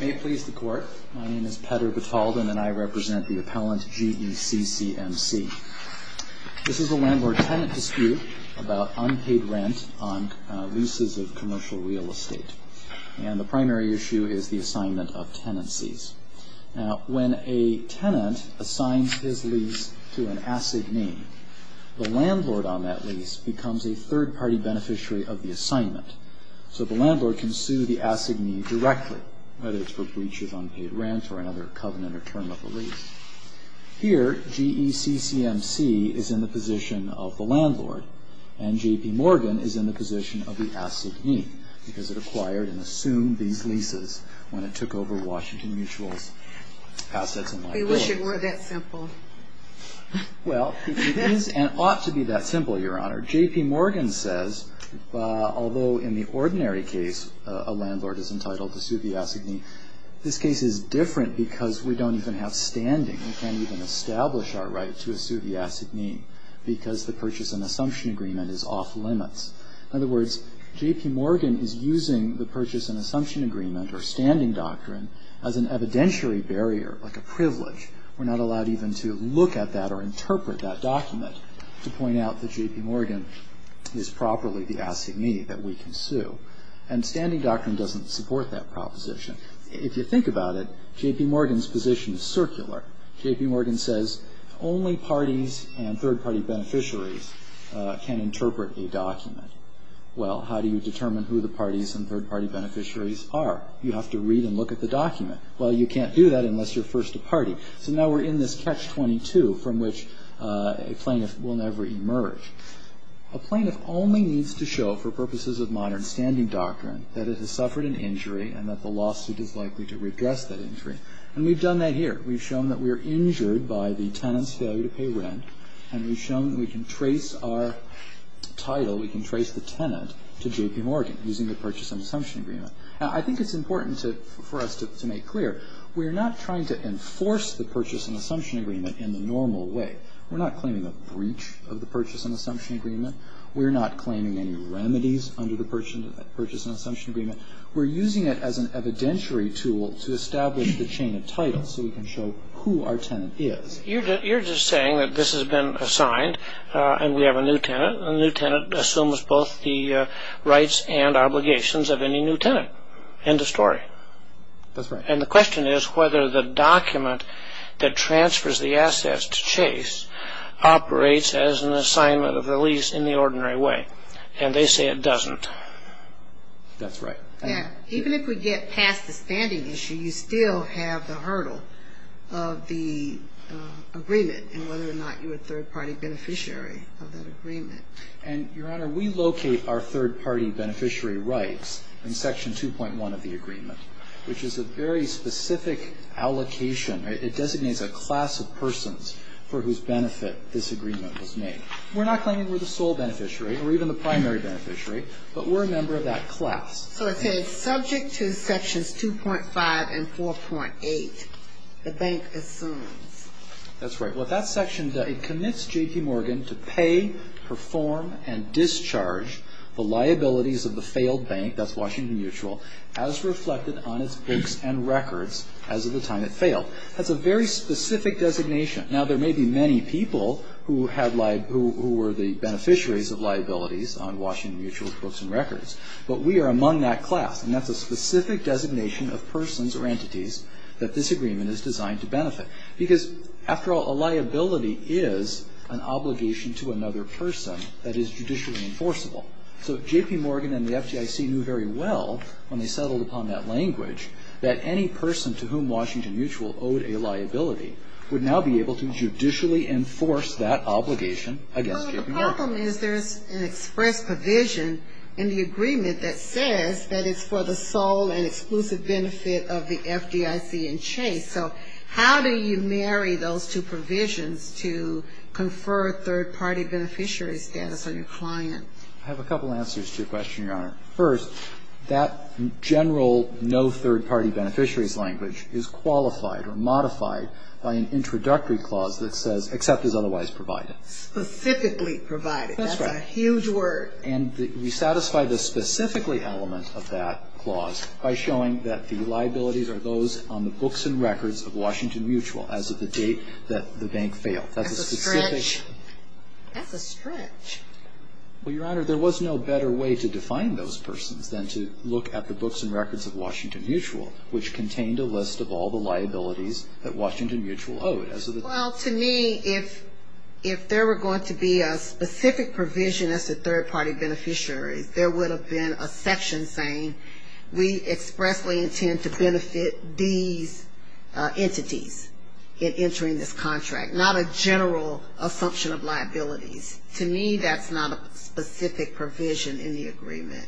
May it please the Court, my name is Petter Batalden and I represent the appellant GECCMC. This is a landlord-tenant dispute about unpaid rent on leases of commercial real estate. And the primary issue is the assignment of tenancies. Now, when a tenant assigns his lease to an assignee, the landlord on that lease becomes a third-party beneficiary of the assignment. So the landlord can sue the assignee directly, whether it's for breach of unpaid rent or another covenant or term of the lease. Here, GECCMC is in the position of the landlord, and JPMorgan is in the position of the assignee, because it acquired and assumed these leases when it took over Washington Mutual's assets. We wish it weren't that simple. Well, it is and ought to be that simple, Your Honor. JPMorgan says, although in the ordinary case a landlord is entitled to sue the assignee, this case is different because we don't even have standing. We can't even establish our right to sue the assignee, because the purchase and assumption agreement is off limits. In other words, JPMorgan is using the purchase and assumption agreement or standing doctrine as an evidentiary barrier, like a privilege. To point out that JPMorgan is properly the assignee that we can sue. And standing doctrine doesn't support that proposition. If you think about it, JPMorgan's position is circular. JPMorgan says only parties and third-party beneficiaries can interpret a document. Well, how do you determine who the parties and third-party beneficiaries are? You have to read and look at the document. So now we're in this catch-22 from which a plaintiff will never emerge. A plaintiff only needs to show, for purposes of modern standing doctrine, that it has suffered an injury and that the lawsuit is likely to redress that injury. And we've done that here. We've shown that we are injured by the tenant's failure to pay rent, and we've shown that we can trace our title, we can trace the tenant, to JPMorgan using the purchase and assumption agreement. Now, I think it's important for us to make clear. We're not trying to enforce the purchase and assumption agreement in the normal way. We're not claiming a breach of the purchase and assumption agreement. We're not claiming any remedies under the purchase and assumption agreement. We're using it as an evidentiary tool to establish the chain of title so we can show who our tenant is. You're just saying that this has been assigned and we have a new tenant, and the new tenant assumes both the rights and obligations of any new tenant. End of story. That's right. And the question is whether the document that transfers the assets to Chase operates as an assignment of the lease in the ordinary way. And they say it doesn't. That's right. Even if we get past the standing issue, you still have the hurdle of the agreement And, Your Honor, we locate our third-party beneficiary rights in Section 2.1 of the agreement, which is a very specific allocation. It designates a class of persons for whose benefit this agreement was made. We're not claiming we're the sole beneficiary or even the primary beneficiary, but we're a member of that class. So it says subject to Sections 2.5 and 4.8, the bank assumes. That's right. It commits J.P. Morgan to pay, perform, and discharge the liabilities of the failed bank, that's Washington Mutual, as reflected on its books and records as of the time it failed. That's a very specific designation. Now, there may be many people who were the beneficiaries of liabilities on Washington Mutual's books and records, but we are among that class, and that's a specific designation of persons or entities that this agreement is designed to benefit. Because, after all, a liability is an obligation to another person that is judicially enforceable. So J.P. Morgan and the FDIC knew very well when they settled upon that language that any person to whom Washington Mutual owed a liability would now be able to judicially enforce that obligation against J.P. Morgan. Well, the problem is there's an express provision in the agreement that says that it's for the sole and exclusive benefit of the FDIC and Chase. So how do you marry those two provisions to confer third-party beneficiary status on your client? I have a couple answers to your question, Your Honor. First, that general no third-party beneficiaries language is qualified or modified by an introductory clause that says, except as otherwise provided. Specifically provided. That's right. That's a huge word. And we satisfy the specifically element of that clause by showing that the liabilities are those on the books and records of Washington Mutual as of the date that the bank failed. That's a stretch. That's a stretch. Well, Your Honor, there was no better way to define those persons than to look at the books and records of Washington Mutual, which contained a list of all the liabilities that Washington Mutual owed. Well, to me, if there were going to be a specific provision as to third-party beneficiaries, there would have been a section saying we expressly intend to benefit these entities in entering this contract. Not a general assumption of liabilities. To me, that's not a specific provision in the agreement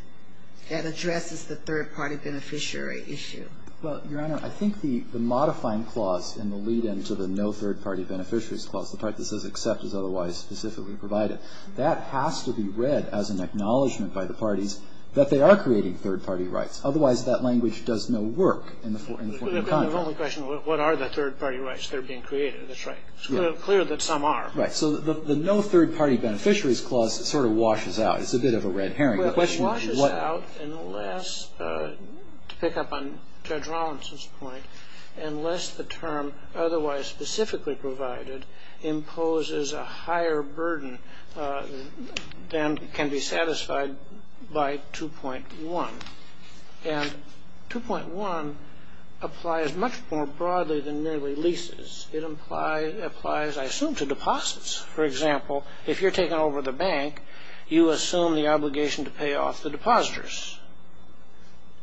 that addresses the third-party beneficiary issue. Well, Your Honor, I think the modifying clause in the lead-in to the no third-party beneficiaries clause, the part that says except as otherwise specifically provided, that has to be read as an acknowledgment by the parties that they are creating third-party rights. Otherwise, that language does no work in the form of a contract. It would have been the wrong question. What are the third-party rights that are being created? That's right. It's clear that some are. Right. So the no third-party beneficiaries clause sort of washes out. It's a bit of a red herring. Well, it washes out unless, to pick up on Judge Rawlinson's point, unless the term otherwise specifically provided imposes a higher burden than can be satisfied by 2.1. And 2.1 applies much more broadly than merely leases. It applies, I assume, to deposits. For example, if you're taking over the bank, you assume the obligation to pay off the depositors.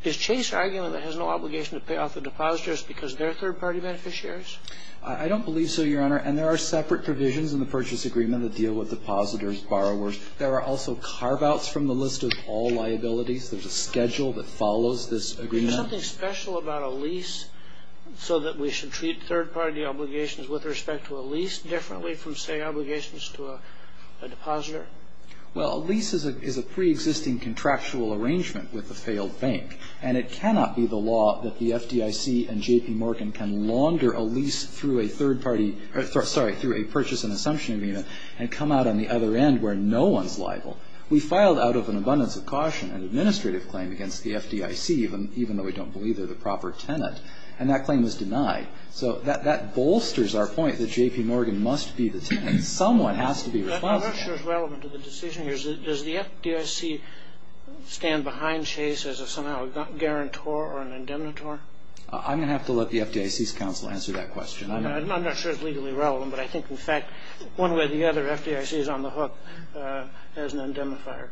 Is Chase arguing that it has no obligation to pay off the depositors because they're third-party beneficiaries? I don't believe so, Your Honor. And there are separate provisions in the purchase agreement that deal with depositors, borrowers. There are also carve-outs from the list of all liabilities. There's a schedule that follows this agreement. Is there something special about a lease so that we should treat third-party obligations with respect to a lease differently from, say, obligations to a depositor? Well, a lease is a preexisting contractual arrangement with a failed bank. And it cannot be the law that the FDIC and J.P. Morgan can launder a lease through a third-party or, sorry, through a purchase and assumption agreement and come out on the other end where no one's liable. We filed out of an abundance of caution an administrative claim against the FDIC, even though we don't believe they're the proper tenant, and that claim was denied. So that bolsters our point that J.P. Morgan must be the tenant. Someone has to be responsible. I'm not sure it's relevant to the decision here. Does the FDIC stand behind Chase as somehow a guarantor or an indemnitor? I'm going to have to let the FDIC's counsel answer that question. I'm not sure it's legally relevant, but I think, in fact, one way or the other, FDIC is on the hook as an indemnifier,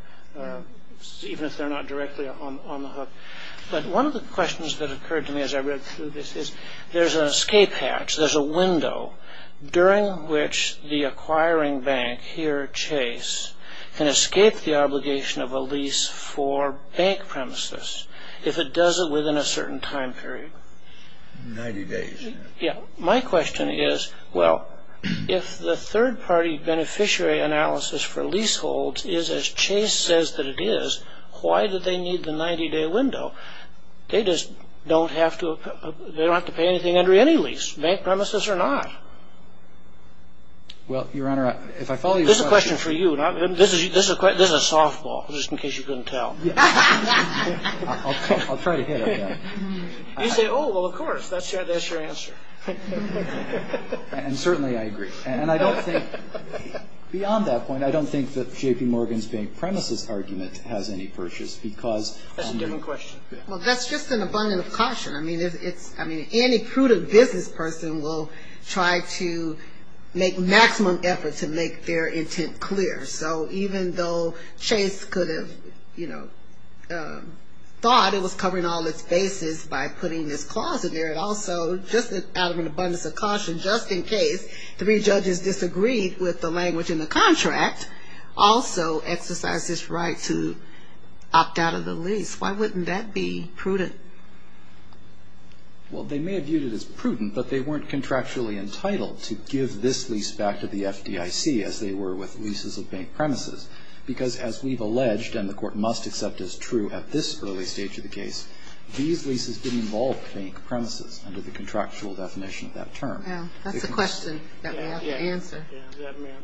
even if they're not directly on the hook. But one of the questions that occurred to me as I read through this is there's an escape hatch, there's a window during which the acquiring bank, here Chase, can escape the obligation of a lease for bank premises if it does it within a certain time period. Ninety days. Yeah. My question is, well, if the third-party beneficiary analysis for leaseholds is as Chase says that it is, why do they need the 90-day window? They just don't have to pay anything under any lease, bank premises or not. Well, Your Honor, if I follow your question. This is a question for you. This is a softball, just in case you couldn't tell. I'll try to hit it. You say, oh, well, of course, that's your answer. And certainly I agree. And I don't think, beyond that point, I don't think that J.P. Morgan's bank premises argument has any purchase because... Well, that's just an abundance of caution. I mean, any prudent business person will try to make maximum effort to make their intent clear. So even though Chase could have, you know, thought it was covering all its bases by putting this clause in there, it also, just out of an abundance of caution, just in case three judges disagreed with the language in the contract, also exercise this right to opt out of the lease. Why wouldn't that be prudent? Well, they may have viewed it as prudent, but they weren't contractually entitled to give this lease back to the FDIC, as they were with leases of bank premises, because as we've alleged, and the Court must accept as true at this early stage of the case, these leases did involve bank premises under the contractual definition of that term. That's a question that we have to answer.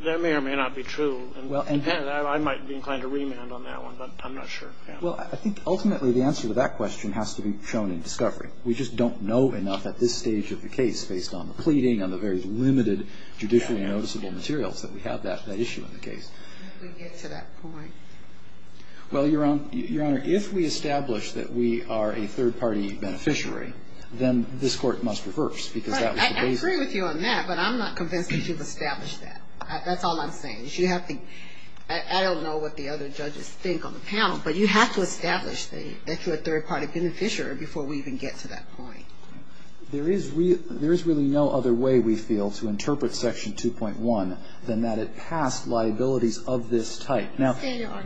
That may or may not be true. I might be inclined to remand on that one, but I'm not sure. Well, I think ultimately the answer to that question has to be shown in discovery. We just don't know enough at this stage of the case, based on the pleading and the very limited judicially noticeable materials that we have that issue in the case. Did we get to that point? Well, Your Honor, if we establish that we are a third-party beneficiary, then this Court must reverse, because that was the basis. I agree with you on that, but I'm not convinced that you've established that. That's all I'm saying. I don't know what the other judges think on the panel, but you have to establish that you're a third-party beneficiary before we even get to that point. There is really no other way, we feel, to interpret Section 2.1 than that it passed liabilities of this type. Now,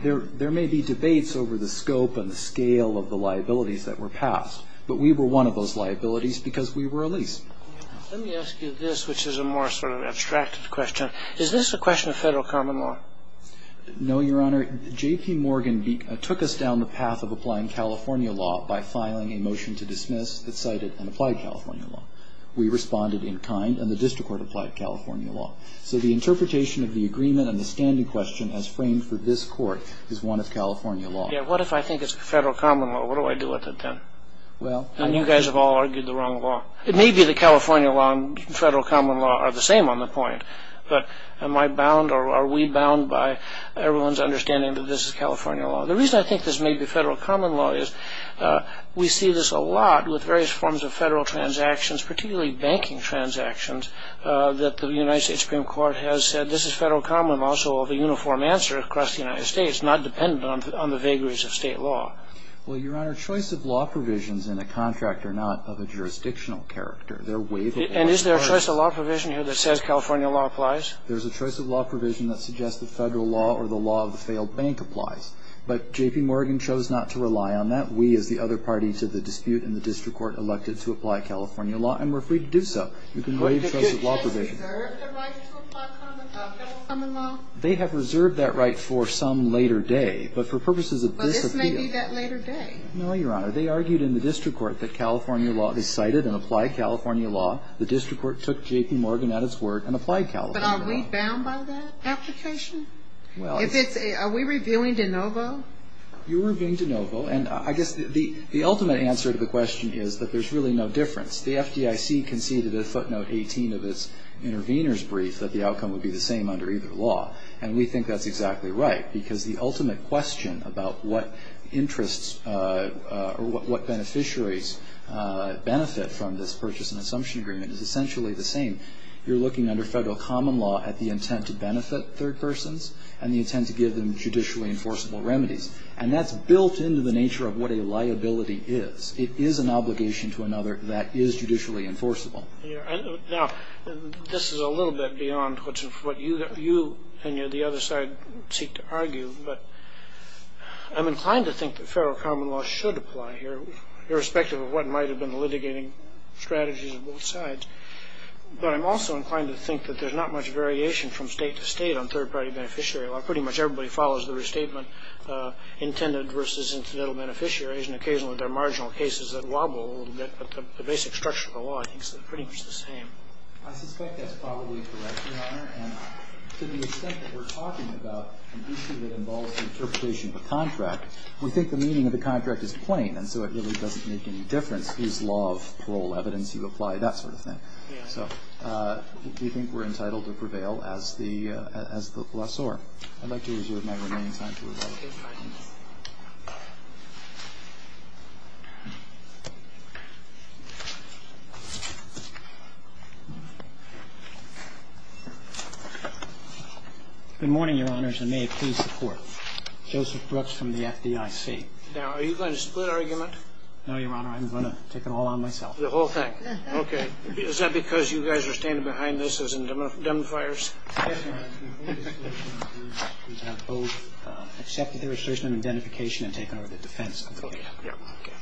there may be debates over the scope and the scale of the liabilities that were passed, but we were one of those liabilities because we were a lease. Let me ask you this, which is a more sort of abstracted question. Is this a question of federal common law? No, Your Honor. J.P. Morgan took us down the path of applying California law by filing a motion to dismiss that cited an applied California law. We responded in kind, and the District Court applied California law. So the interpretation of the agreement and the standing question as framed for this Court is one of California law. Yeah, what if I think it's federal common law? What do I do with it then? Well, I think... Then you guys have all argued the wrong law. It may be that California law and federal common law are the same on the point, but am I bound or are we bound by everyone's understanding that this is California law? The reason I think this may be federal common law is we see this a lot with various forms of federal transactions, particularly banking transactions, that the United States Supreme Court has said, this is federal common law, so the uniform answer across the United States, not dependent on the vagaries of state law. Well, Your Honor, choice of law provisions in a contract are not of a jurisdictional character. They're waiveable. And is there a choice of law provision here that says California law applies? There's a choice of law provision that suggests the federal law or the law of the failed bank applies. But J.P. Morgan chose not to rely on that. We, as the other party to the dispute in the District Court, elected to apply California law, and we're free to do so. You can waive choice of law provision. But did you guys reserve the right to apply federal common law? They have reserved that right for some later day, but for purposes of this appeal... This may be that later day. No, Your Honor. They argued in the District Court that California law, they cited and applied California law. The District Court took J.P. Morgan at its word and applied California law. But are we bound by that application? Well... If it's a, are we revealing de novo? You are revealing de novo, and I guess the ultimate answer to the question is that there's really no difference. The FDIC conceded at footnote 18 of its intervener's brief that the outcome would be the same under either law. And we think that's exactly right, because the ultimate question about what interests, or what beneficiaries benefit from this purchase and assumption agreement is essentially the same. You're looking under federal common law at the intent to benefit third persons and the intent to give them judicially enforceable remedies. And that's built into the nature of what a liability is. It is an obligation to another that is judicially enforceable. Now, this is a little bit beyond what you and the other side seek to argue, but I'm inclined to think that federal common law should apply here, irrespective of what might have been the litigating strategies of both sides. But I'm also inclined to think that there's not much variation from state to state on third-party beneficiary law. Pretty much everybody follows the restatement intended versus incidental beneficiaries, and occasionally there are marginal cases that wobble a little bit, but the basic structure of the law, I think, is pretty much the same. I suspect that's probably correct, Your Honor. And to the extent that we're talking about an issue that involves the interpretation of a contract, we think the meaning of the contract is plain, and so it really doesn't make any difference. It's law of parole, evidence you apply, that sort of thing. Yeah. So we think we're entitled to prevail as the glossaire. I'd like to reserve my remaining time to rebuttal. Good morning, Your Honors, and may it please the Court. Joseph Brooks from the FDIC. Now, are you going to split argument? No, Your Honor. I'm going to take it all on myself. The whole thing. Okay. Is that because you guys are standing behind this as indemnifiers? We have both accepted the argument. We have both accepted the argument.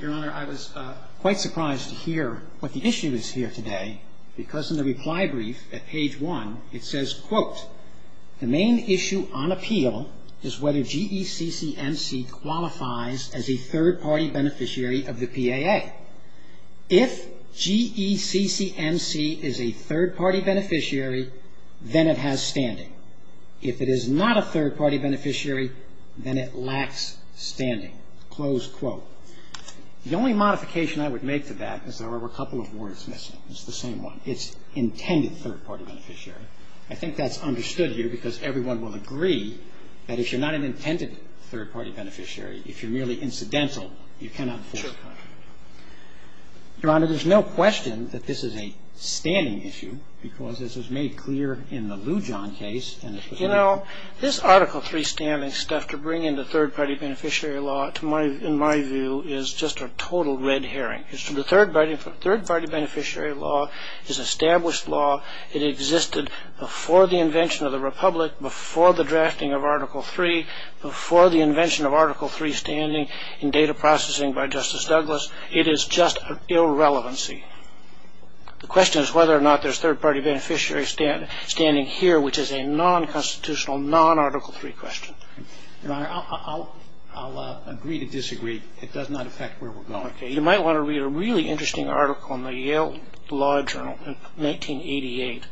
Your Honor, I was quite surprised to hear what the issue is here today, because in the reply brief at page 1, it says, quote, the main issue on appeal is whether GECCMC qualifies as a third-party beneficiary of the PAA. If GECCMC is a third-party beneficiary, then it has standing. If it is not a third-party beneficiary, then it lacks standing. Close quote. The only modification I would make to that is there are a couple of words missing. It's the same one. It's intended third-party beneficiary. I think that's understood here, because everyone will agree that if you're not an intended third-party beneficiary, if you're merely incidental, you cannot enforce a contract. Your Honor, there's no question that this is a standing issue, because this is made clear in the Lujan case. You know, this Article III standing stuff to bring in the third-party beneficiary law, in my view, is just a total red herring. The third-party beneficiary law is established law. It existed before the invention of the Republic, before the drafting of Article III, before the invention of Article III standing in data processing by Justice Douglas. It is just an irrelevancy. The question is whether or not there's third-party beneficiary standing here, which is a non-constitutional, non-Article III question. Your Honor, I'll agree to disagree. It does not affect where we're going. Okay. You might want to read a really interesting article in the Yale Law Journal, 1988,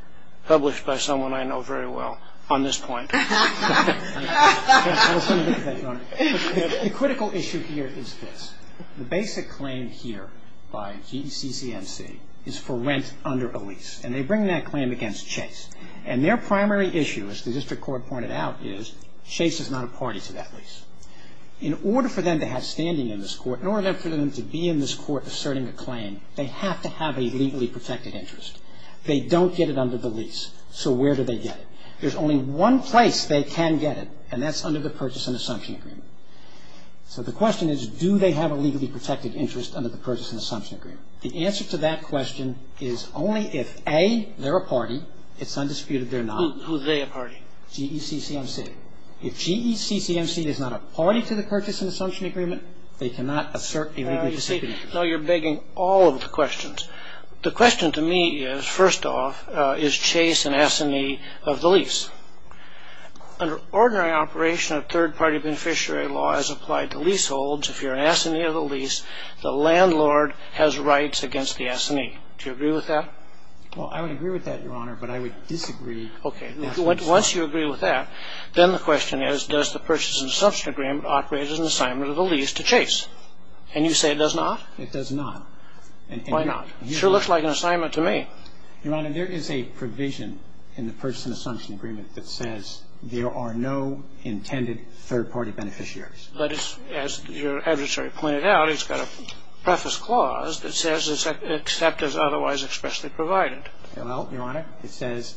published by someone I know very well on this point. I was going to make that, Your Honor. The critical issue here is this. The basic claim here by GCCNC is for rent under a lease, and they bring that claim against Chase. And their primary issue, as the district court pointed out, is Chase is not a party to that lease. In order for them to have standing in this court, in order for them to be in this court asserting a claim, they have to have a legally protected interest. They don't get it under the lease, so where do they get it? There's only one place they can get it, and that's under the Purchase and Assumption Agreement. So the question is, do they have a legally protected interest under the Purchase and Assumption Agreement? The answer to that question is only if, A, they're a party. It's undisputed they're not. Who's they a party? GECCNC. If GECCNC is not a party to the Purchase and Assumption Agreement, they cannot assert a legally protected interest. No, you're begging all of the questions. The question to me is, first off, is Chase an assignee of the lease? Under ordinary operation of third-party beneficiary law as applied to leaseholds, if you're an assignee of the lease, the landlord has rights against the assignee. Do you agree with that? Well, I would agree with that, Your Honor, but I would disagree. Okay. Once you agree with that, then the question is, does the Purchase and Assumption Agreement operate as an assignment of the lease to Chase? And you say it does not? It does not. Why not? It sure looks like an assignment to me. Your Honor, there is a provision in the Purchase and Assumption Agreement that says there are no intended third-party beneficiaries. But as your adversary pointed out, it's got a preface clause that says except as otherwise expressly provided. Well, Your Honor, it says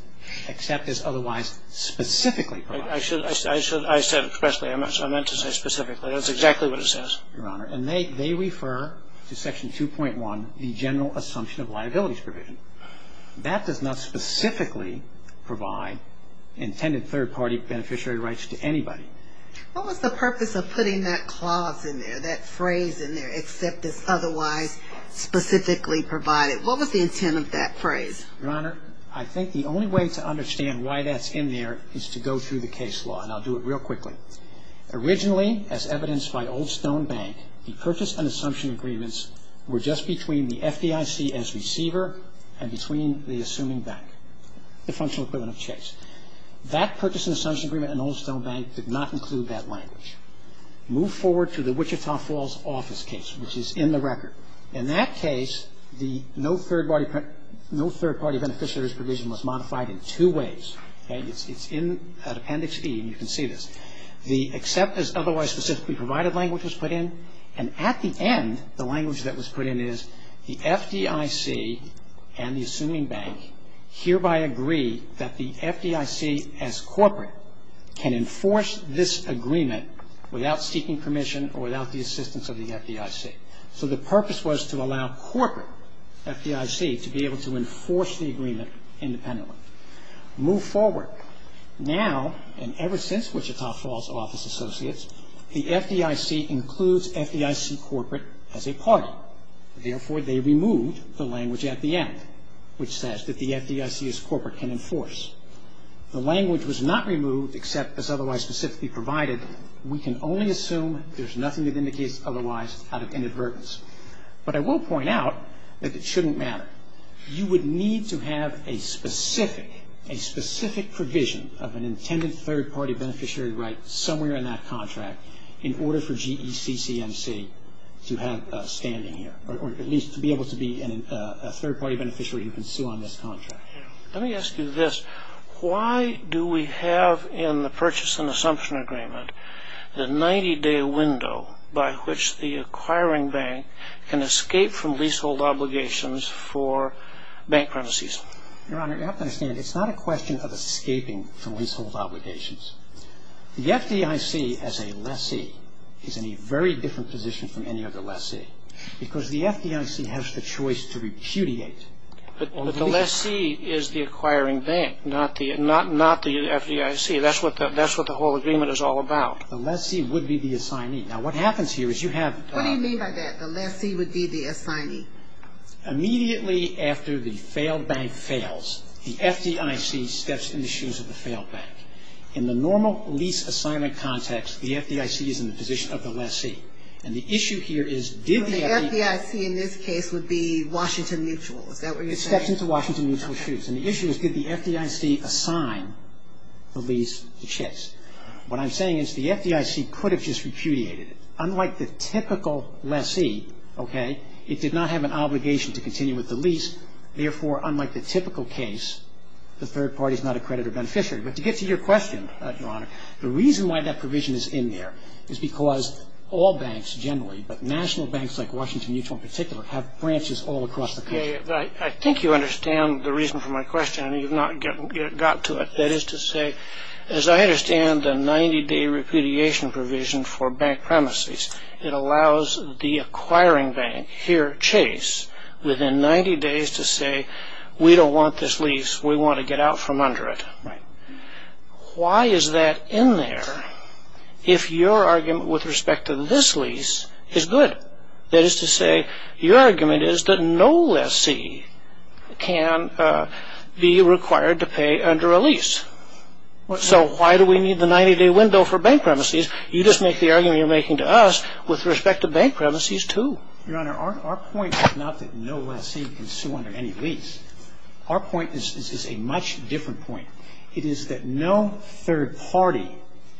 except as otherwise specifically provided. I said expressly. I meant to say specifically. That's exactly what it says. Your Honor, and they refer to Section 2.1, the General Assumption of Liabilities Provision. That does not specifically provide intended third-party beneficiary rights to anybody. What was the purpose of putting that clause in there, that phrase in there, except as otherwise specifically provided? What was the intent of that phrase? Your Honor, I think the only way to understand why that's in there is to go through the case law, and I'll do it real quickly. Originally, as evidenced by Old Stone Bank, the Purchase and Assumption Agreements were just between the FDIC as receiver and between the assuming bank, the functional equivalent of Chase. That Purchase and Assumption Agreement in Old Stone Bank did not include that language. Move forward to the Wichita Falls office case, which is in the record. In that case, the no third-party beneficiaries provision was modified in two ways. It's in Appendix E, and you can see this. The except as otherwise specifically provided language was put in, and at the end the language that was put in is the FDIC and the assuming bank hereby agree that the FDIC as corporate can enforce this agreement without seeking permission or without the assistance of the FDIC. So the purpose was to allow corporate FDIC to be able to enforce the agreement independently. Move forward. Now and ever since Wichita Falls office associates, the FDIC includes FDIC corporate as a party. Therefore, they removed the language at the end, which says that the FDIC as corporate can enforce. The language was not removed except as otherwise specifically provided. We can only assume there's nothing that indicates otherwise out of inadvertence. But I will point out that it shouldn't matter. You would need to have a specific provision of an intended third-party beneficiary right somewhere in that contract in order for GECCMC to have standing here, or at least to be able to be a third-party beneficiary who can sue on this contract. Let me ask you this. Why do we have in the purchase and assumption agreement the 90-day window by which the acquiring bank can escape from leasehold obligations for bank premises? Your Honor, you have to understand it's not a question of escaping from leasehold obligations. The FDIC as a lessee is in a very different position from any other lessee because the FDIC has the choice to repudiate. But the lessee is the acquiring bank, not the FDIC. That's what the whole agreement is all about. The lessee would be the assignee. Now what happens here is you have... What do you mean by that? The lessee would be the assignee? Immediately after the failed bank fails, the FDIC steps in the shoes of the failed bank. In the normal lease assignment context, the FDIC is in the position of the lessee. And the issue here is did the FDIC... The FDIC in this case would be Washington Mutual. Is that what you're saying? It steps into Washington Mutual's shoes. And the issue is did the FDIC assign the lease to Chase? What I'm saying is the FDIC could have just repudiated it. Unlike the typical lessee, okay, it did not have an obligation to continue with the lease. Therefore, unlike the typical case, the third party is not a creditor beneficiary. But to get to your question, Your Honor, the reason why that provision is in there is because all banks generally, but national banks like Washington Mutual in particular, have branches all across the country. I think you understand the reason for my question. I know you've not gotten to it. That is to say, as I understand the 90-day repudiation provision for bank premises, it allows the acquiring bank here, Chase, within 90 days to say, We don't want this lease. We want to get out from under it. Why is that in there if your argument with respect to this lease is good? That is to say, your argument is that no lessee can be required to pay under a lease. So why do we need the 90-day window for bank premises? You just make the argument you're making to us with respect to bank premises, too. Your Honor, our point is not that no lessee can sue under any lease. Our point is a much different point. It is that no third party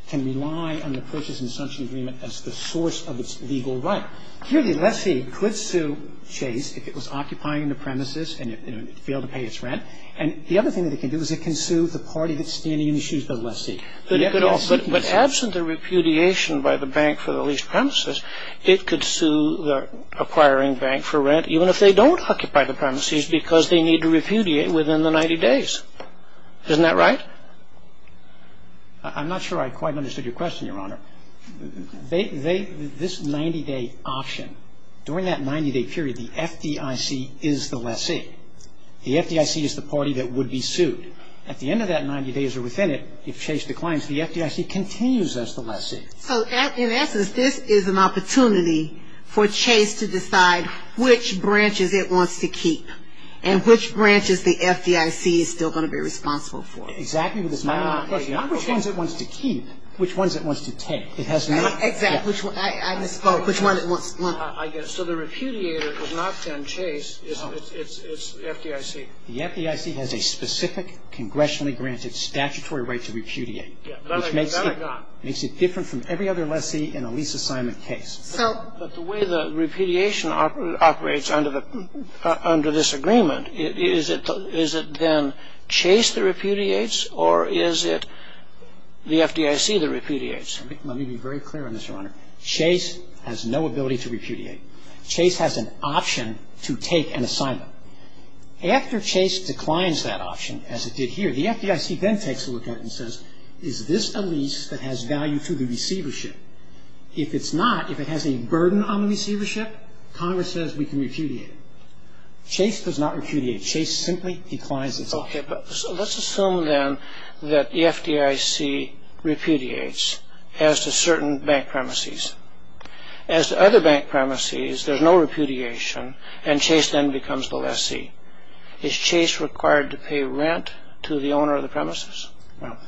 can rely on the purchase and sanction agreement as the source of its legal right. Clearly, lessee could sue Chase if it was occupying the premises and it failed to pay its rent. And the other thing that it can do is it can sue the party that's standing in the shoes of the lessee. But absent the repudiation by the bank for the leased premises, it could sue the acquiring bank for rent even if they don't occupy the premises because they need to repudiate within the 90 days. Isn't that right? I'm not sure I quite understood your question, Your Honor. This 90-day option, during that 90-day period, the FDIC is the lessee. The FDIC is the party that would be sued. At the end of that 90 days or within it, if Chase declines, the FDIC continues as the lessee. So in essence, this is an opportunity for Chase to decide which branches it wants to keep and which branches the FDIC is still going to be responsible for. Exactly. Which ones it wants to keep, which ones it wants to take. Exactly. I misspoke. Which one it wants to keep. So the repudiator is not then Chase. It's FDIC. The FDIC has a specific congressionally granted statutory right to repudiate, which makes it different from every other lessee in a lease assignment case. But the way the repudiation operates under this agreement, is it then Chase that repudiates or is it the FDIC that repudiates? Let me be very clear on this, Your Honor. Chase has no ability to repudiate. Chase has an option to take an assignment. After Chase declines that option, as it did here, the FDIC then takes a look at it and says, is this a lease that has value to the receivership? If it's not, if it has any burden on the receivership, Congress says we can repudiate it. Chase does not repudiate. Chase simply declines its offer. Okay, but let's assume then that the FDIC repudiates as to certain bank premises. As to other bank premises, there's no repudiation and Chase then becomes the lessee. Is Chase required to pay rent to the owner of the premises? Well,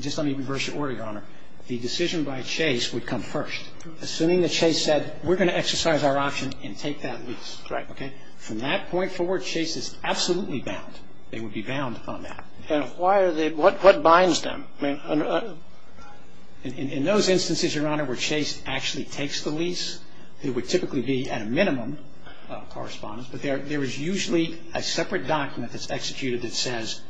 just let me reverse your order, Your Honor. The decision by Chase would come first. Assuming that Chase said, we're going to exercise our option and take that lease. Right. Okay? From that point forward, Chase is absolutely bound. They would be bound on that. And why are they? What binds them? In those instances, Your Honor, where Chase actually takes the lease, it would typically be at a minimum correspondence, but there is usually a separate document that's executed that says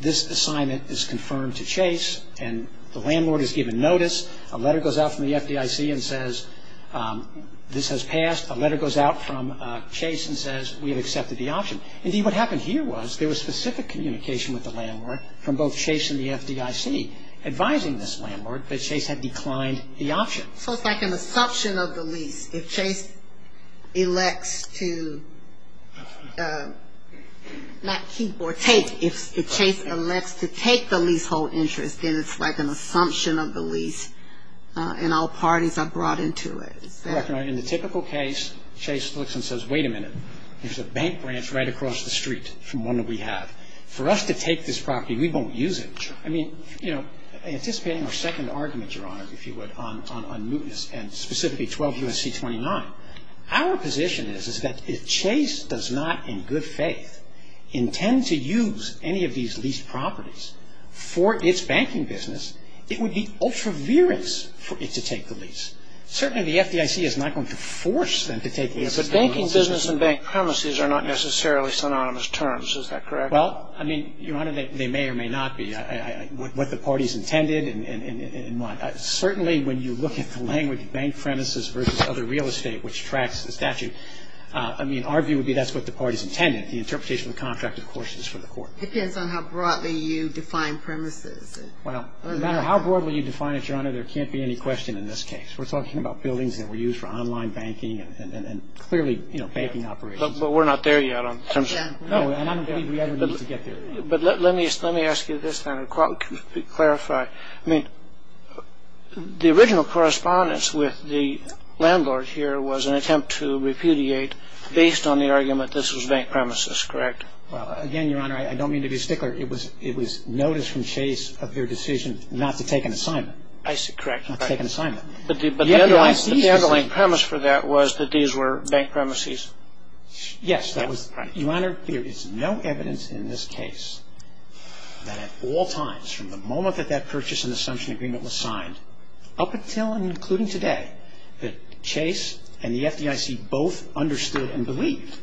this assignment is confirmed to Chase and the landlord has given notice. A letter goes out from the FDIC and says this has passed. A letter goes out from Chase and says we have accepted the option. Indeed, what happened here was there was specific communication with the landlord from both Chase and the FDIC advising this landlord that Chase had declined the option. So it's like an assumption of the lease. If Chase elects to not keep or take. If Chase elects to take the leasehold interest, then it's like an assumption of the lease and all parties are brought into it. Correct, Your Honor. In the typical case, Chase looks and says, wait a minute. There's a bank branch right across the street from one that we have. For us to take this property, we won't use it. Sure. I mean, you know, anticipating our second argument, Your Honor, if you would, on mootness and specifically 12 U.S.C. 29, our position is that if Chase does not in good faith intend to use any of these leased properties for its banking business, it would be ultra-virous for it to take the lease. Certainly the FDIC is not going to force them to take the lease. But banking business and bank premises are not necessarily synonymous terms. Is that correct? Well, I mean, Your Honor, they may or may not be. What the parties intended and what. Certainly when you look at the language, bank premises versus other real estate, which tracks the statute, I mean, our view would be that's what the parties intended. The interpretation of the contract, of course, is for the court. It depends on how broadly you define premises. Well, no matter how broadly you define it, Your Honor, there can't be any question in this case. We're talking about buildings that were used for online banking and clearly, you know, banking operations. But we're not there yet in terms of. No, and I don't think we ever need to get there. But let me ask you this, then, to clarify. I mean, the original correspondence with the landlord here was an attempt to repudiate based on the argument this was bank premises, correct? Well, again, Your Honor, I don't mean to be stickler. It was notice from Chase of their decision not to take an assignment. I see. Correct. Not to take an assignment. But the underlying premise for that was that these were bank premises. Yes, that was. Your Honor, there is no evidence in this case that at all times from the moment that that purchase and assumption agreement was signed up until and including today that Chase and the FDIC both understood and believed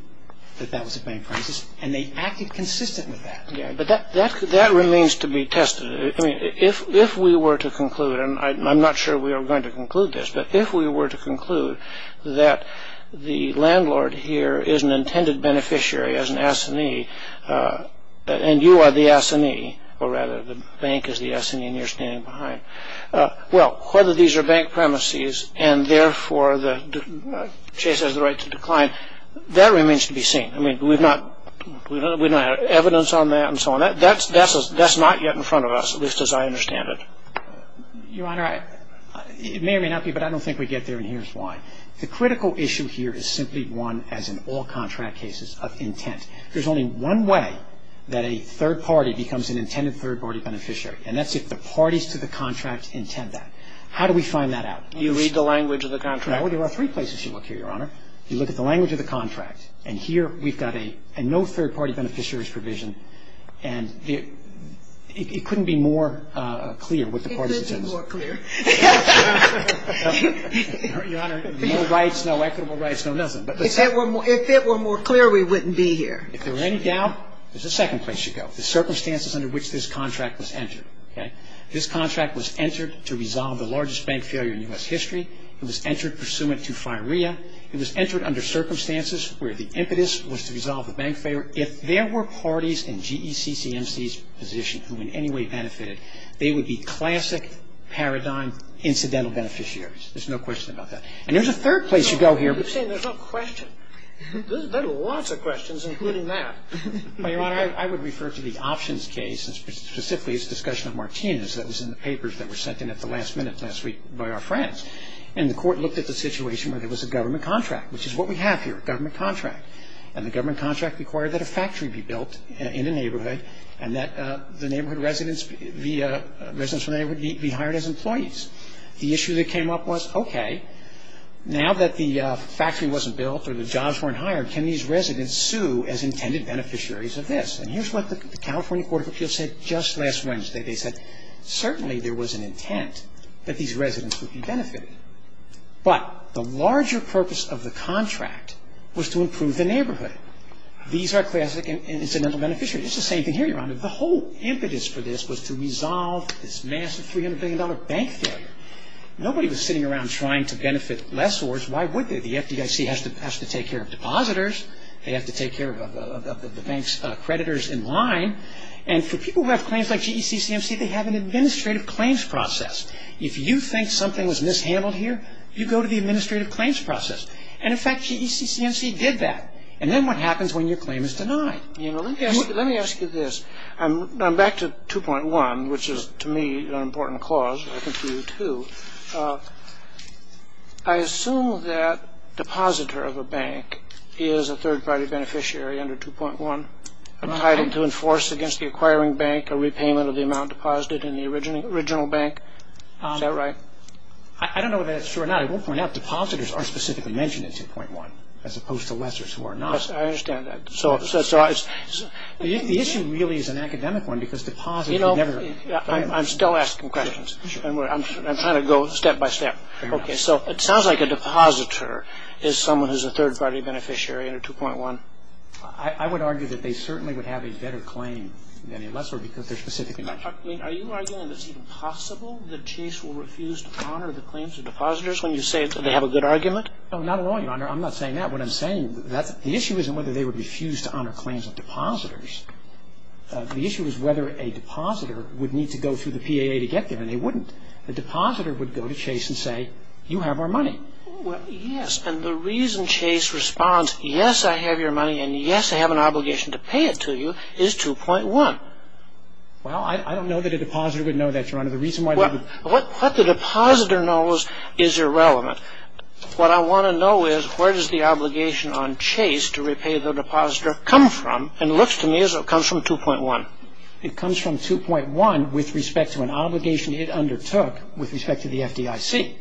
that that was a bank premises and they acted consistent with that. Yes, but that remains to be tested. I mean, if we were to conclude, and I'm not sure we are going to conclude this, but if we were to conclude that the landlord here is an intended beneficiary as an assignee and you are the assignee, or rather the bank is the assignee and you're standing behind, well, whether these are bank premises and therefore Chase has the right to decline, that remains to be seen. I mean, we don't have evidence on that and so on. That's not yet in front of us, at least as I understand it. Your Honor, it may or may not be, but I don't think we get there, and here's why. The critical issue here is simply one as in all contract cases of intent. There's only one way that a third party becomes an intended third party beneficiary, and that's if the parties to the contract intend that. How do we find that out? Do you read the language of the contract? Well, there are three places you look here, Your Honor. You look at the language of the contract, and here we've got a no third party beneficiaries provision, and it couldn't be more clear what the parties intend. It could be more clear. Your Honor, no rights, no equitable rights, no nothing. If it were more clear, we wouldn't be here. If there were any doubt, there's a second place you go. The circumstances under which this contract was entered, okay? This contract was entered to resolve the largest bank failure in U.S. history. It was entered pursuant to FIREA. It was entered under circumstances where the impetus was to resolve the bank failure. If there were parties in GECCMC's position who in any way benefited, they would be classic paradigm incidental beneficiaries. There's no question about that. And there's a third place you go here. You're saying there's no question. There are lots of questions, including that. Well, Your Honor, I would refer to the options case, and specifically its discussion of Martinez. That was in the papers that were sent in at the last minute last week by our friends. And the Court looked at the situation where there was a government contract, which is what we have here, a government contract. And the government contract required that a factory be built in a neighborhood and that the neighborhood residents be hired as employees. The issue that came up was, okay, now that the factory wasn't built or the jobs weren't hired, can these residents sue as intended beneficiaries of this? And here's what the California Court of Appeals said just last Wednesday. They said certainly there was an intent that these residents would be benefited. But the larger purpose of the contract was to improve the neighborhood. These are classic incidental beneficiaries. It's the same thing here, Your Honor. The whole impetus for this was to resolve this massive $300 billion bank failure. Nobody was sitting around trying to benefit lessors. Why would they? The FDIC has to take care of depositors. They have to take care of the bank's creditors in line. And for people who have claims like GECCMC, they have an administrative claims process. If you think something was mishandled here, you go to the administrative claims process. And, in fact, GECCMC did that. And then what happens when your claim is denied? Let me ask you this. I'm back to 2.1, which is, to me, an important clause. I think to you, too. I assume that depositor of a bank is a third-party beneficiary under 2.1, a title to enforce against the acquiring bank, a repayment of the amount deposited in the original bank. Is that right? I don't know whether that's true or not. I won't point out. Depositors are specifically mentioned in 2.1 as opposed to lessors who are not. I understand that. The issue really is an academic one because depositors never… I'm still asking questions. I'm trying to go step by step. Okay, so it sounds like a depositor is someone who's a third-party beneficiary under 2.1. I would argue that they certainly would have a better claim than a lessor because they're specifically mentioned. Are you arguing that it's even possible that Chase will refuse to honor the claims of depositors when you say they have a good argument? No, not at all, Your Honor. I'm not saying that. What I'm saying, the issue isn't whether they would refuse to honor claims of depositors. The issue is whether a depositor would need to go through the PAA to get them, and they wouldn't. The depositor would go to Chase and say, you have our money. Well, yes, and the reason Chase responds, yes, I have your money, and yes, I have an obligation to pay it to you, is 2.1. Well, I don't know that a depositor would know that, Your Honor. The reason why they would… What the depositor knows is irrelevant. What I want to know is where does the obligation on Chase to repay the depositor come from, and it looks to me as though it comes from 2.1. It comes from 2.1 with respect to an obligation it undertook with respect to the FDIC.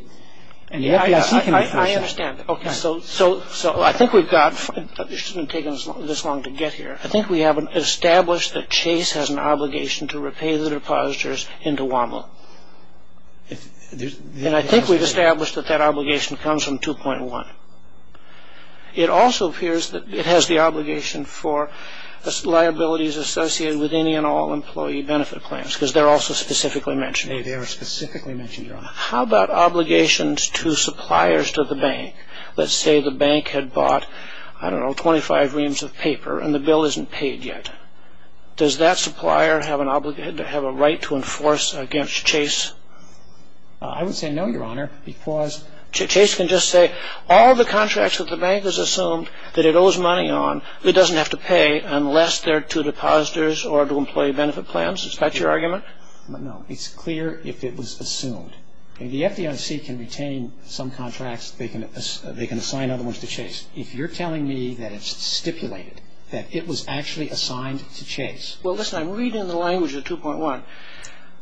And the FDIC can… I understand. Okay, so I think we've got – it shouldn't have taken this long to get here. I think we have established that Chase has an obligation to repay the depositors into WAML. And I think we've established that that obligation comes from 2.1. It also appears that it has the obligation for liabilities associated with any and all employee benefit claims, because they're also specifically mentioned. They are specifically mentioned, Your Honor. How about obligations to suppliers to the bank? Let's say the bank had bought, I don't know, 25 reams of paper, and the bill isn't paid yet. Does that supplier have an obligation – have a right to enforce against Chase? I would say no, Your Honor, because… Chase can just say all the contracts that the bank has assumed that it owes money on, it doesn't have to pay unless they're to depositors or to employee benefit plans? Is that your argument? No. It's clear if it was assumed. The FDIC can retain some contracts, they can assign other ones to Chase. If you're telling me that it's stipulated, that it was actually assigned to Chase… Well, listen, I'm reading the language of 2.1.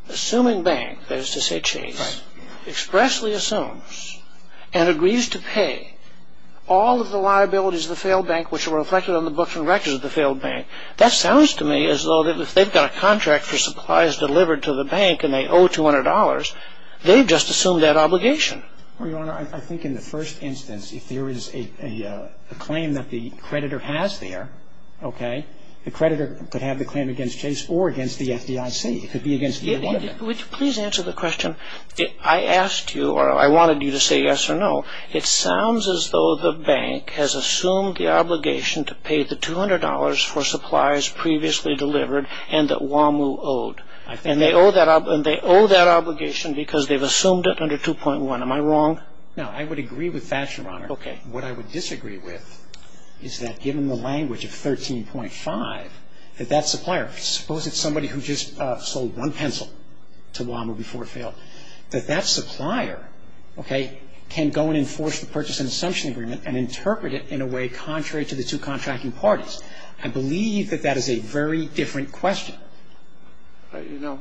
Assuming bank, that is to say Chase, expressly assumes and agrees to pay all of the liabilities of the failed bank which are reflected on the books and records of the failed bank, that sounds to me as though if they've got a contract for supplies delivered to the bank and they owe $200, they've just assumed that obligation. Well, Your Honor, I think in the first instance, if there is a claim that the creditor has there, okay, the creditor could have the claim against Chase or against the FDIC. It could be against either one of them. Would you please answer the question? I asked you or I wanted you to say yes or no. It sounds as though the bank has assumed the obligation to pay the $200 for supplies previously delivered and that WAMU owed. And they owe that obligation because they've assumed it under 2.1. Am I wrong? No, I would agree with that, Your Honor. Okay. What I would disagree with is that given the language of 13.5, that that supplier, suppose it's somebody who just sold one pencil to WAMU before it failed, that that supplier, okay, can go and enforce the purchase and assumption agreement and interpret it in a way contrary to the two contracting parties. I believe that that is a very different question. You know,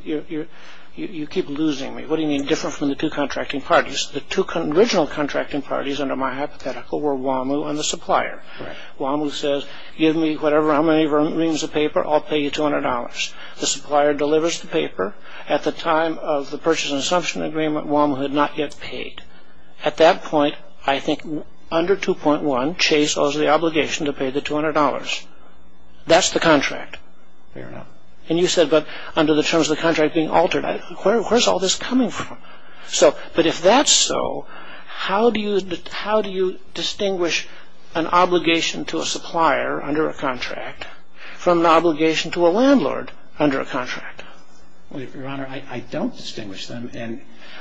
you keep losing me. What do you mean different from the two contracting parties? The two original contracting parties under my hypothetical were WAMU and the supplier. Right. WAMU says, give me whatever, however many reams of paper, I'll pay you $200. The supplier delivers the paper at the time of the purchase and assumption agreement WAMU had not yet paid. At that point, I think under 2.1, Chase owes the obligation to pay the $200. That's the contract. And you said, but under the terms of the contract being altered, where's all this coming from? But if that's so, how do you distinguish an obligation to a supplier under a contract from an obligation to a landlord under a contract? Your Honor, I don't distinguish them.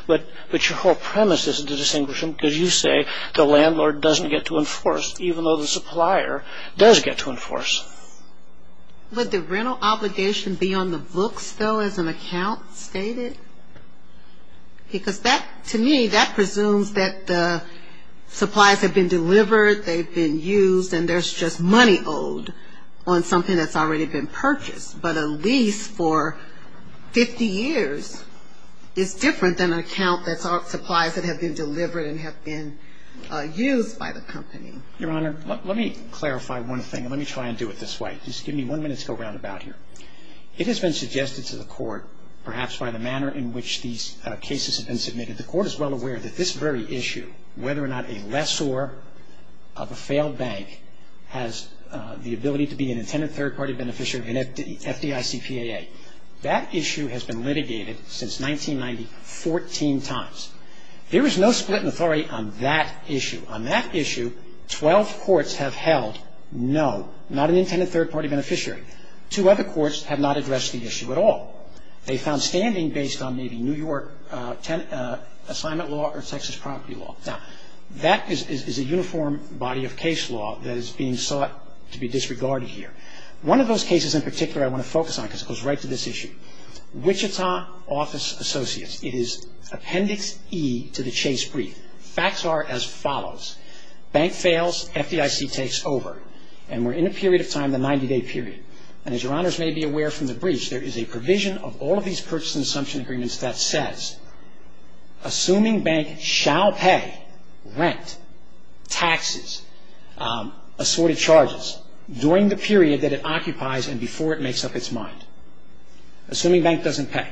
But your whole premise isn't to distinguish them because you say the landlord doesn't get to enforce, even though the supplier does get to enforce. Would the rental obligation be on the books, though, as an account stated? Because that, to me, that presumes that the supplies have been delivered, they've been used, and there's just money owed on something that's already been purchased. But a lease for 50 years is different than an account that supplies that have been delivered and have been used by the company. Your Honor, let me clarify one thing, and let me try and do it this way. Just give me one minute to go round about here. It has been suggested to the court, perhaps by the manner in which these cases have been submitted, the court is well aware that this very issue, whether or not a lessor of a failed bank has the ability to be an intended third-party beneficiary of an FDICPAA. That issue has been litigated since 1990 14 times. There is no split in authority on that issue. On that issue, 12 courts have held no, not an intended third-party beneficiary. Two other courts have not addressed the issue at all. They found standing based on maybe New York assignment law or Texas property law. Now, that is a uniform body of case law that is being sought to be disregarded here. One of those cases in particular I want to focus on, because it goes right to this issue, Wichita Office Associates. It is Appendix E to the Chase Brief. Facts are as follows. Bank fails. FDIC takes over. And we're in a period of time, the 90-day period. And as Your Honors may be aware from the briefs, there is a provision of all of these purchase and assumption agreements that says, assuming bank shall pay rent, taxes, assorted charges, during the period that it occupies and before it makes up its mind. Assuming bank doesn't pay.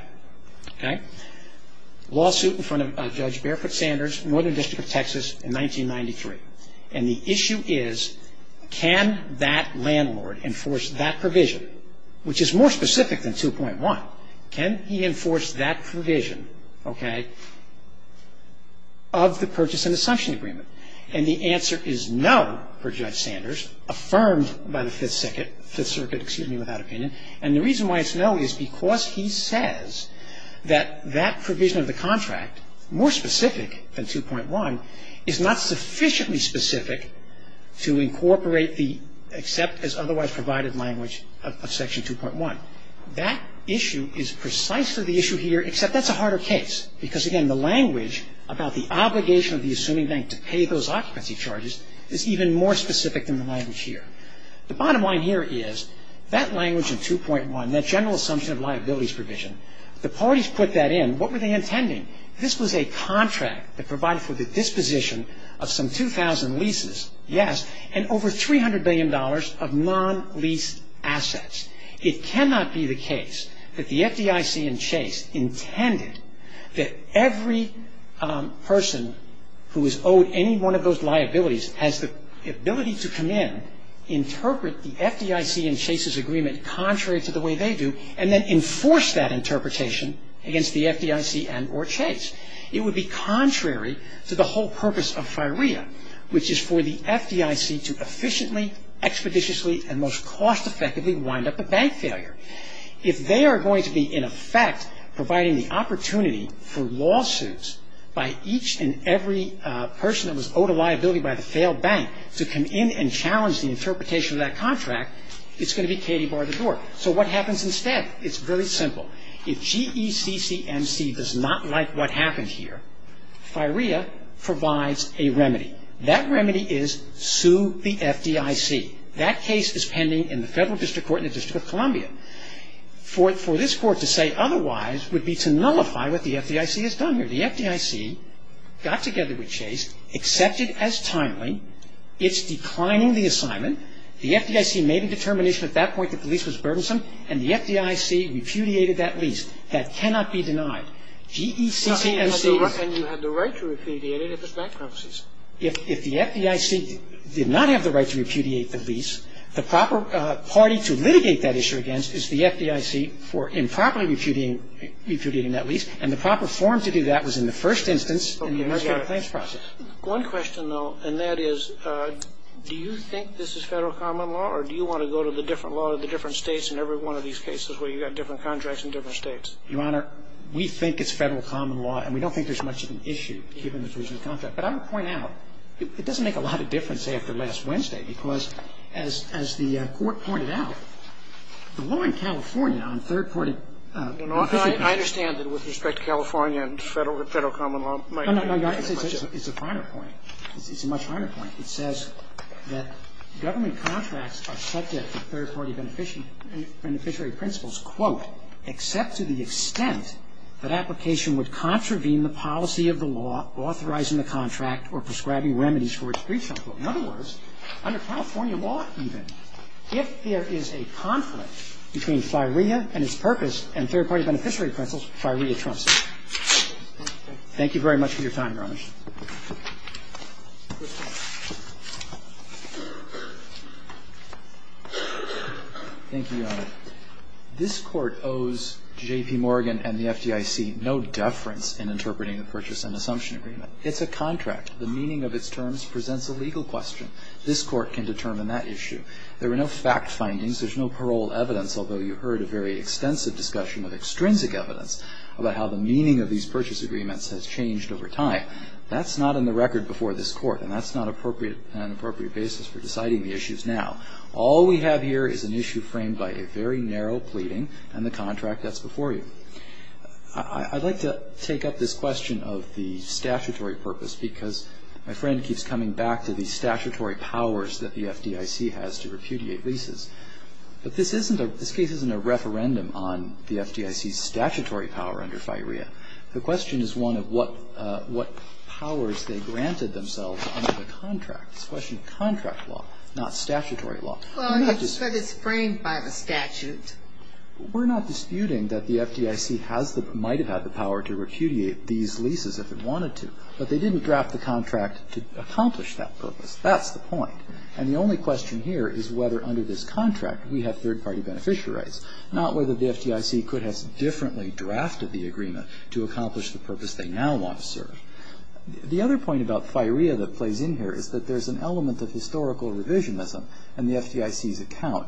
Okay. Lawsuit in front of Judge Barefoot Sanders, Northern District of Texas in 1993. And the issue is can that landlord enforce that provision, which is more specific than 2.1. Can he enforce that provision, okay, of the purchase and assumption agreement? And the answer is no, per Judge Sanders, affirmed by the Fifth Circuit, Fifth Circuit, excuse me, without opinion. And the reason why it's no is because he says that that provision of the contract, more specific than 2.1, is not sufficiently specific to incorporate the except as otherwise provided language of Section 2.1. That issue is precisely the issue here, except that's a harder case. Because, again, the language about the obligation of the assuming bank to pay those occupancy charges is even more specific than the language here. The bottom line here is that language in 2.1, that general assumption of liabilities provision, the parties put that in. What were they intending? This was a contract that provided for the disposition of some 2,000 leases, yes, and over $300 billion of non-lease assets. It cannot be the case that the FDIC and Chase intended that every person who is owed any one of those liabilities has the ability to come in, interpret the FDIC and Chase's agreement contrary to the way they do, and then enforce that interpretation against the FDIC and or Chase. It would be contrary to the whole purpose of FIREA, which is for the FDIC to efficiently, expeditiously, and most cost-effectively wind up a bank failure. If they are going to be, in effect, providing the opportunity for lawsuits by each and every person that was owed a liability by the failed bank to come in and challenge the interpretation of that contract, it's going to be Katy bar the door. So what happens instead? It's very simple. If GECCMC does not like what happened here, FIREA provides a remedy. That remedy is sue the FDIC. That case is pending in the federal district court in the District of Columbia. For this court to say otherwise would be to nullify what the FDIC has done here. So the FDIC got together with Chase, accepted as timely. It's declining the assignment. The FDIC made a determination at that point that the lease was burdensome, and the FDIC repudiated that lease. That cannot be denied. GECCMC is... And you have the right to repudiate it if it's bankruptcies. If the FDIC did not have the right to repudiate the lease, the proper party to litigate that issue against is the FDIC for improperly repudiating that lease, and the proper form to do that was in the first instance in the administrative claims process. One question, though, and that is, do you think this is federal common law, or do you want to go to the different law of the different states in every one of these cases where you've got different contracts in different states? Your Honor, we think it's federal common law, and we don't think there's much of an issue given the provision of contract. But I would point out, it doesn't make a lot of difference after last Wednesday because, as the Court pointed out, the law in California on third-party... I understand that with respect to California and federal common law... It's a finer point. It's a much finer point. It says that government contracts are subject to third-party beneficiary principles, quote, except to the extent that application would contravene the policy of the law authorizing the contract or prescribing remedies for its breach. In other words, under California law, even, if there is a conflict between FIREA and its purpose and third-party beneficiary principles, FIREA trumps it. Thank you very much for your time, Your Honor. Roberts. Thank you, Your Honor. This Court owes J.P. Morgan and the FDIC no deference in interpreting the purchase and assumption agreement. It's a contract. The meaning of its terms presents a legal question. This Court can determine that issue. There were no fact findings. There's no parole evidence, although you heard a very extensive discussion of extrinsic evidence about how the meaning of these purchase agreements has changed over time. That's not in the record before this Court, and that's not an appropriate basis for deciding the issues now. All we have here is an issue framed by a very narrow pleading and the contract that's before you. I'd like to take up this question of the statutory purpose because my friend keeps coming back to the statutory powers that the FDIC has to repudiate leases. But this case isn't a referendum on the FDIC's statutory power under FIREA. The question is one of what powers they granted themselves under the contract. It's a question of contract law, not statutory law. Well, it's framed by the statute. We're not disputing that the FDIC might have had the power to repudiate these leases if it wanted to. But they didn't draft the contract to accomplish that purpose. That's the point. And the only question here is whether under this contract we have third-party beneficiary rights, not whether the FDIC could have differently drafted the agreement to accomplish the purpose they now want to serve. The other point about FIREA that plays in here is that there's an element of historical revisionism in the FDIC's account.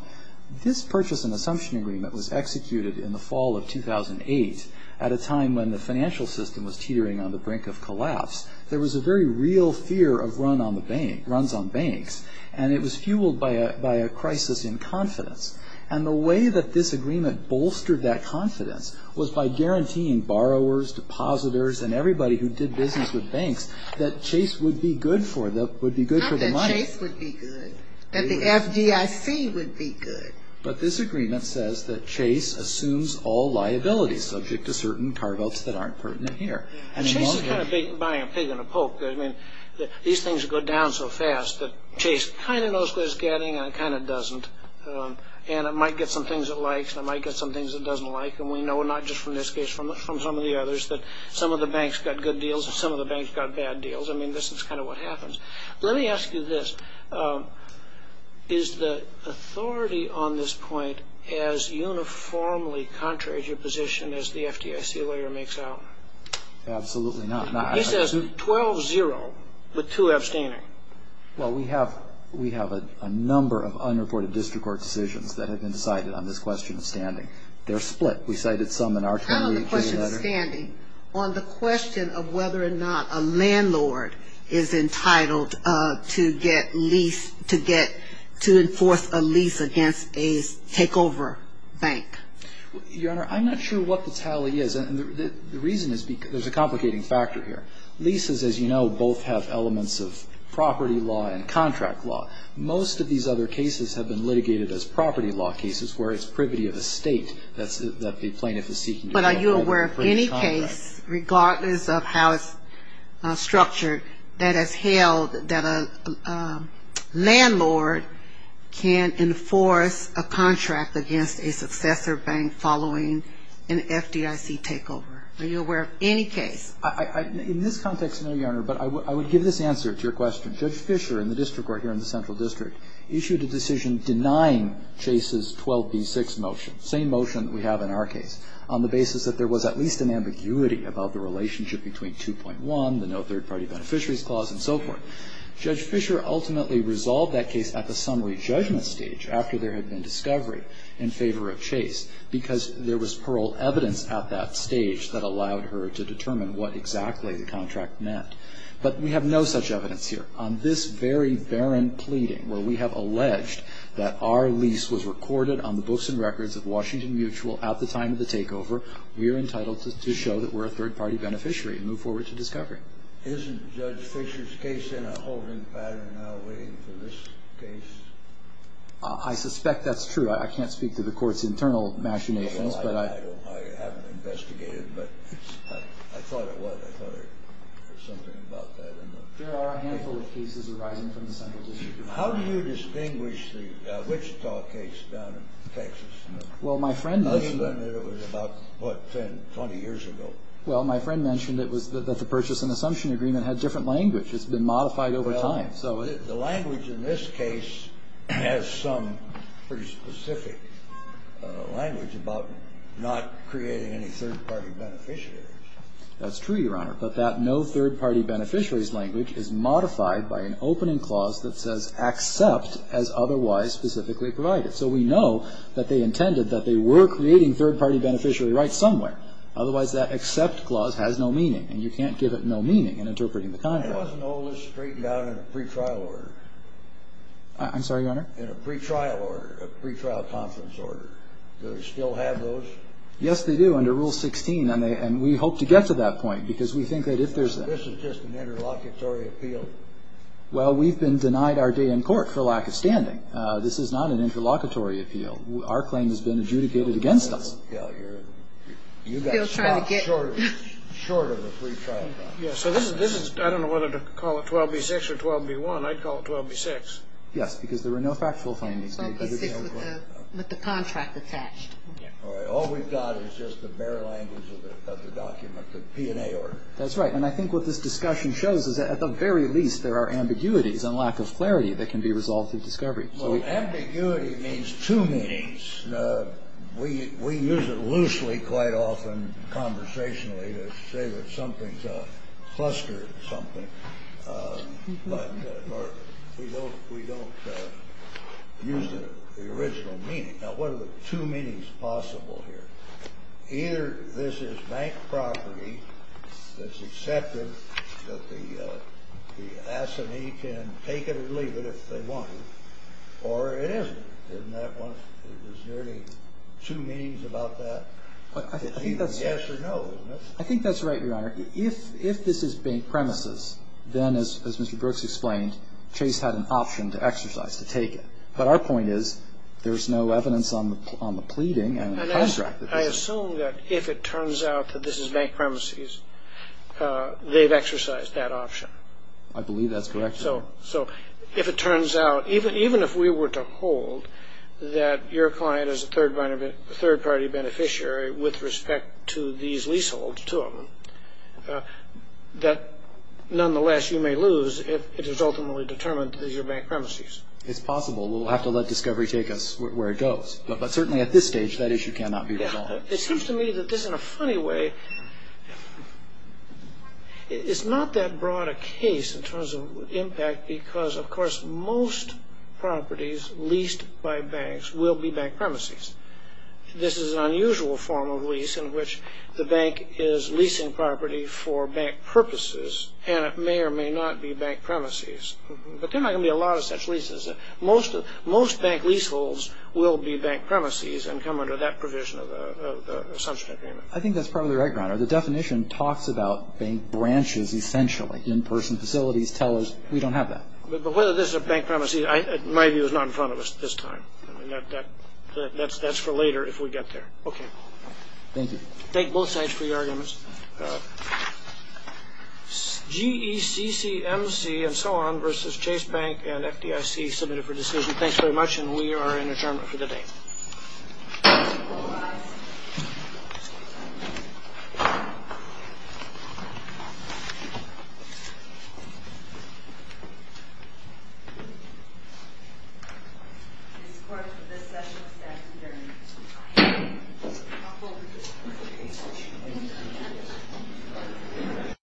This purchase and assumption agreement was executed in the fall of 2008 at a time when the financial system was teetering on the brink of collapse. There was a very real fear of runs on banks. And it was fueled by a crisis in confidence. And the way that this agreement bolstered that confidence was by guaranteeing borrowers, depositors, and everybody who did business with banks that Chase would be good for the money. Not that Chase would be good, that the FDIC would be good. But this agreement says that Chase assumes all liabilities subject to certain cargoes that aren't pertinent here. And Chase is kind of buying a pig and a poke. I mean, these things go down so fast that Chase kind of knows what it's getting and it kind of doesn't. And it might get some things it likes and it might get some things it doesn't like. And we know not just from this case, from some of the others, that some of the banks got good deals and some of the banks got bad deals. I mean, this is kind of what happens. Let me ask you this. Is the authority on this point as uniformly contrary to your position as the FDIC lawyer makes out? Absolutely not. He says 12-0 with two abstaining. Well, we have a number of unreported district court decisions that have been cited on this question of standing. They're split. We cited some in our time. How on the question of standing, on the question of whether or not a landlord is entitled to get lease, to get, to enforce a lease against a takeover bank? Your Honor, I'm not sure what the tally is. And the reason is because there's a complicating factor here. Leases, as you know, both have elements of property law and contract law. Most of these other cases have been litigated as property law cases where it's privity of estate that the plaintiff is seeking to get. But are you aware of any case, regardless of how it's structured, that has held that a landlord can enforce a contract against a successor bank following an FDIC takeover? Are you aware of any case? In this context, no, Your Honor. But I would give this answer to your question. Judge Fisher in the district court here in the Central District issued a decision denying Chase's 12b-6 motion, same motion that we have in our case, on the basis that there was at least an ambiguity about the relationship between 2.1, the no third-party beneficiaries clause, and so forth. Judge Fisher ultimately resolved that case at the summary judgment stage, after there had been discovery in favor of Chase, because there was parole evidence at that stage that allowed her to determine what exactly the contract meant. But we have no such evidence here. On this very barren pleading where we have alleged that our lease was recorded on the books and records of Washington Mutual at the time of the takeover, we are entitled to show that we're a third-party beneficiary and move forward to discovery. Isn't Judge Fisher's case in a holding pattern now waiting for this case? I suspect that's true. I can't speak to the Court's internal machinations. I haven't investigated, but I thought it was. I thought there was something about that. There are a handful of cases arising from the Central District. How do you distinguish the Wichita case down in Texas? Well, my friend mentioned that it was about, what, 10, 20 years ago? Well, my friend mentioned it was that the purchase and assumption agreement had different language. It's been modified over time. Well, the language in this case has some pretty specific language about not creating any third-party beneficiaries. That's true, Your Honor. But that no third-party beneficiaries language is modified by an opening clause that says accept as otherwise specifically provided. So we know that they intended that they were creating third-party beneficiary rights somewhere. Otherwise, that accept clause has no meaning, and you can't give it no meaning in interpreting the contract. It wasn't all this straightened out in a pretrial order. I'm sorry, Your Honor? In a pretrial order, a pretrial conference order. Do they still have those? Yes, they do, under Rule 16, and we hope to get to that point, because we think that if there's a This is just an interlocutory appeal. Well, we've been denied our day in court for lack of standing. This is not an interlocutory appeal. Our claim has been adjudicated against us. You got stopped short of a pretrial trial. So this is, I don't know whether to call it 12b-6 or 12b-1. I'd call it 12b-6. Yes, because there were no factual findings. 12b-6 with the contract attached. All we've got is just the bare language of the document, the P&A order. That's right. And I think what this discussion shows is that at the very least, there are ambiguities and lack of clarity that can be resolved through discovery. Well, ambiguity means two meanings. We use it loosely quite often conversationally to say that something's a cluster of something, but we don't use the original meaning. Now, what are the two meanings possible here? Either this is bank property that's accepted, that the S&E can take it or leave it if they want to, or it isn't. Isn't that one? There's nearly two meanings about that. Yes or no. I think that's right, Your Honor. If this is bank premises, then, as Mr. Brooks explained, Chase had an option to exercise, to take it. But our point is there's no evidence on the pleading and the contract. I assume that if it turns out that this is bank premises, they've exercised that option. I believe that's correct, Your Honor. So if it turns out, even if we were to hold that your client is a third-party beneficiary with respect to these leaseholds, two of them, that, nonetheless, you may lose if it is ultimately determined that these are bank premises. It's possible. We'll have to let discovery take us where it goes. But certainly at this stage, that issue cannot be resolved. It seems to me that this, in a funny way, is not that broad a case in terms of impact because, of course, most properties leased by banks will be bank premises. This is an unusual form of lease in which the bank is leasing property for bank purposes, and it may or may not be bank premises. But there are not going to be a lot of such leases. Most bank leaseholds will be bank premises and come under that provision of the assumption agreement. I think that's probably right, Your Honor. The definition talks about bank branches essentially. In-person facilities tell us we don't have that. But whether this is a bank premises, in my view, is not in front of us at this time. That's for later if we get there. Okay. Thank you. Thank both sides for your arguments. GECCMC and so on versus Chase Bank and FDIC submitted for decision. Thanks very much, and we are in adjournment for the day. All rise. This court for this session is adjourned.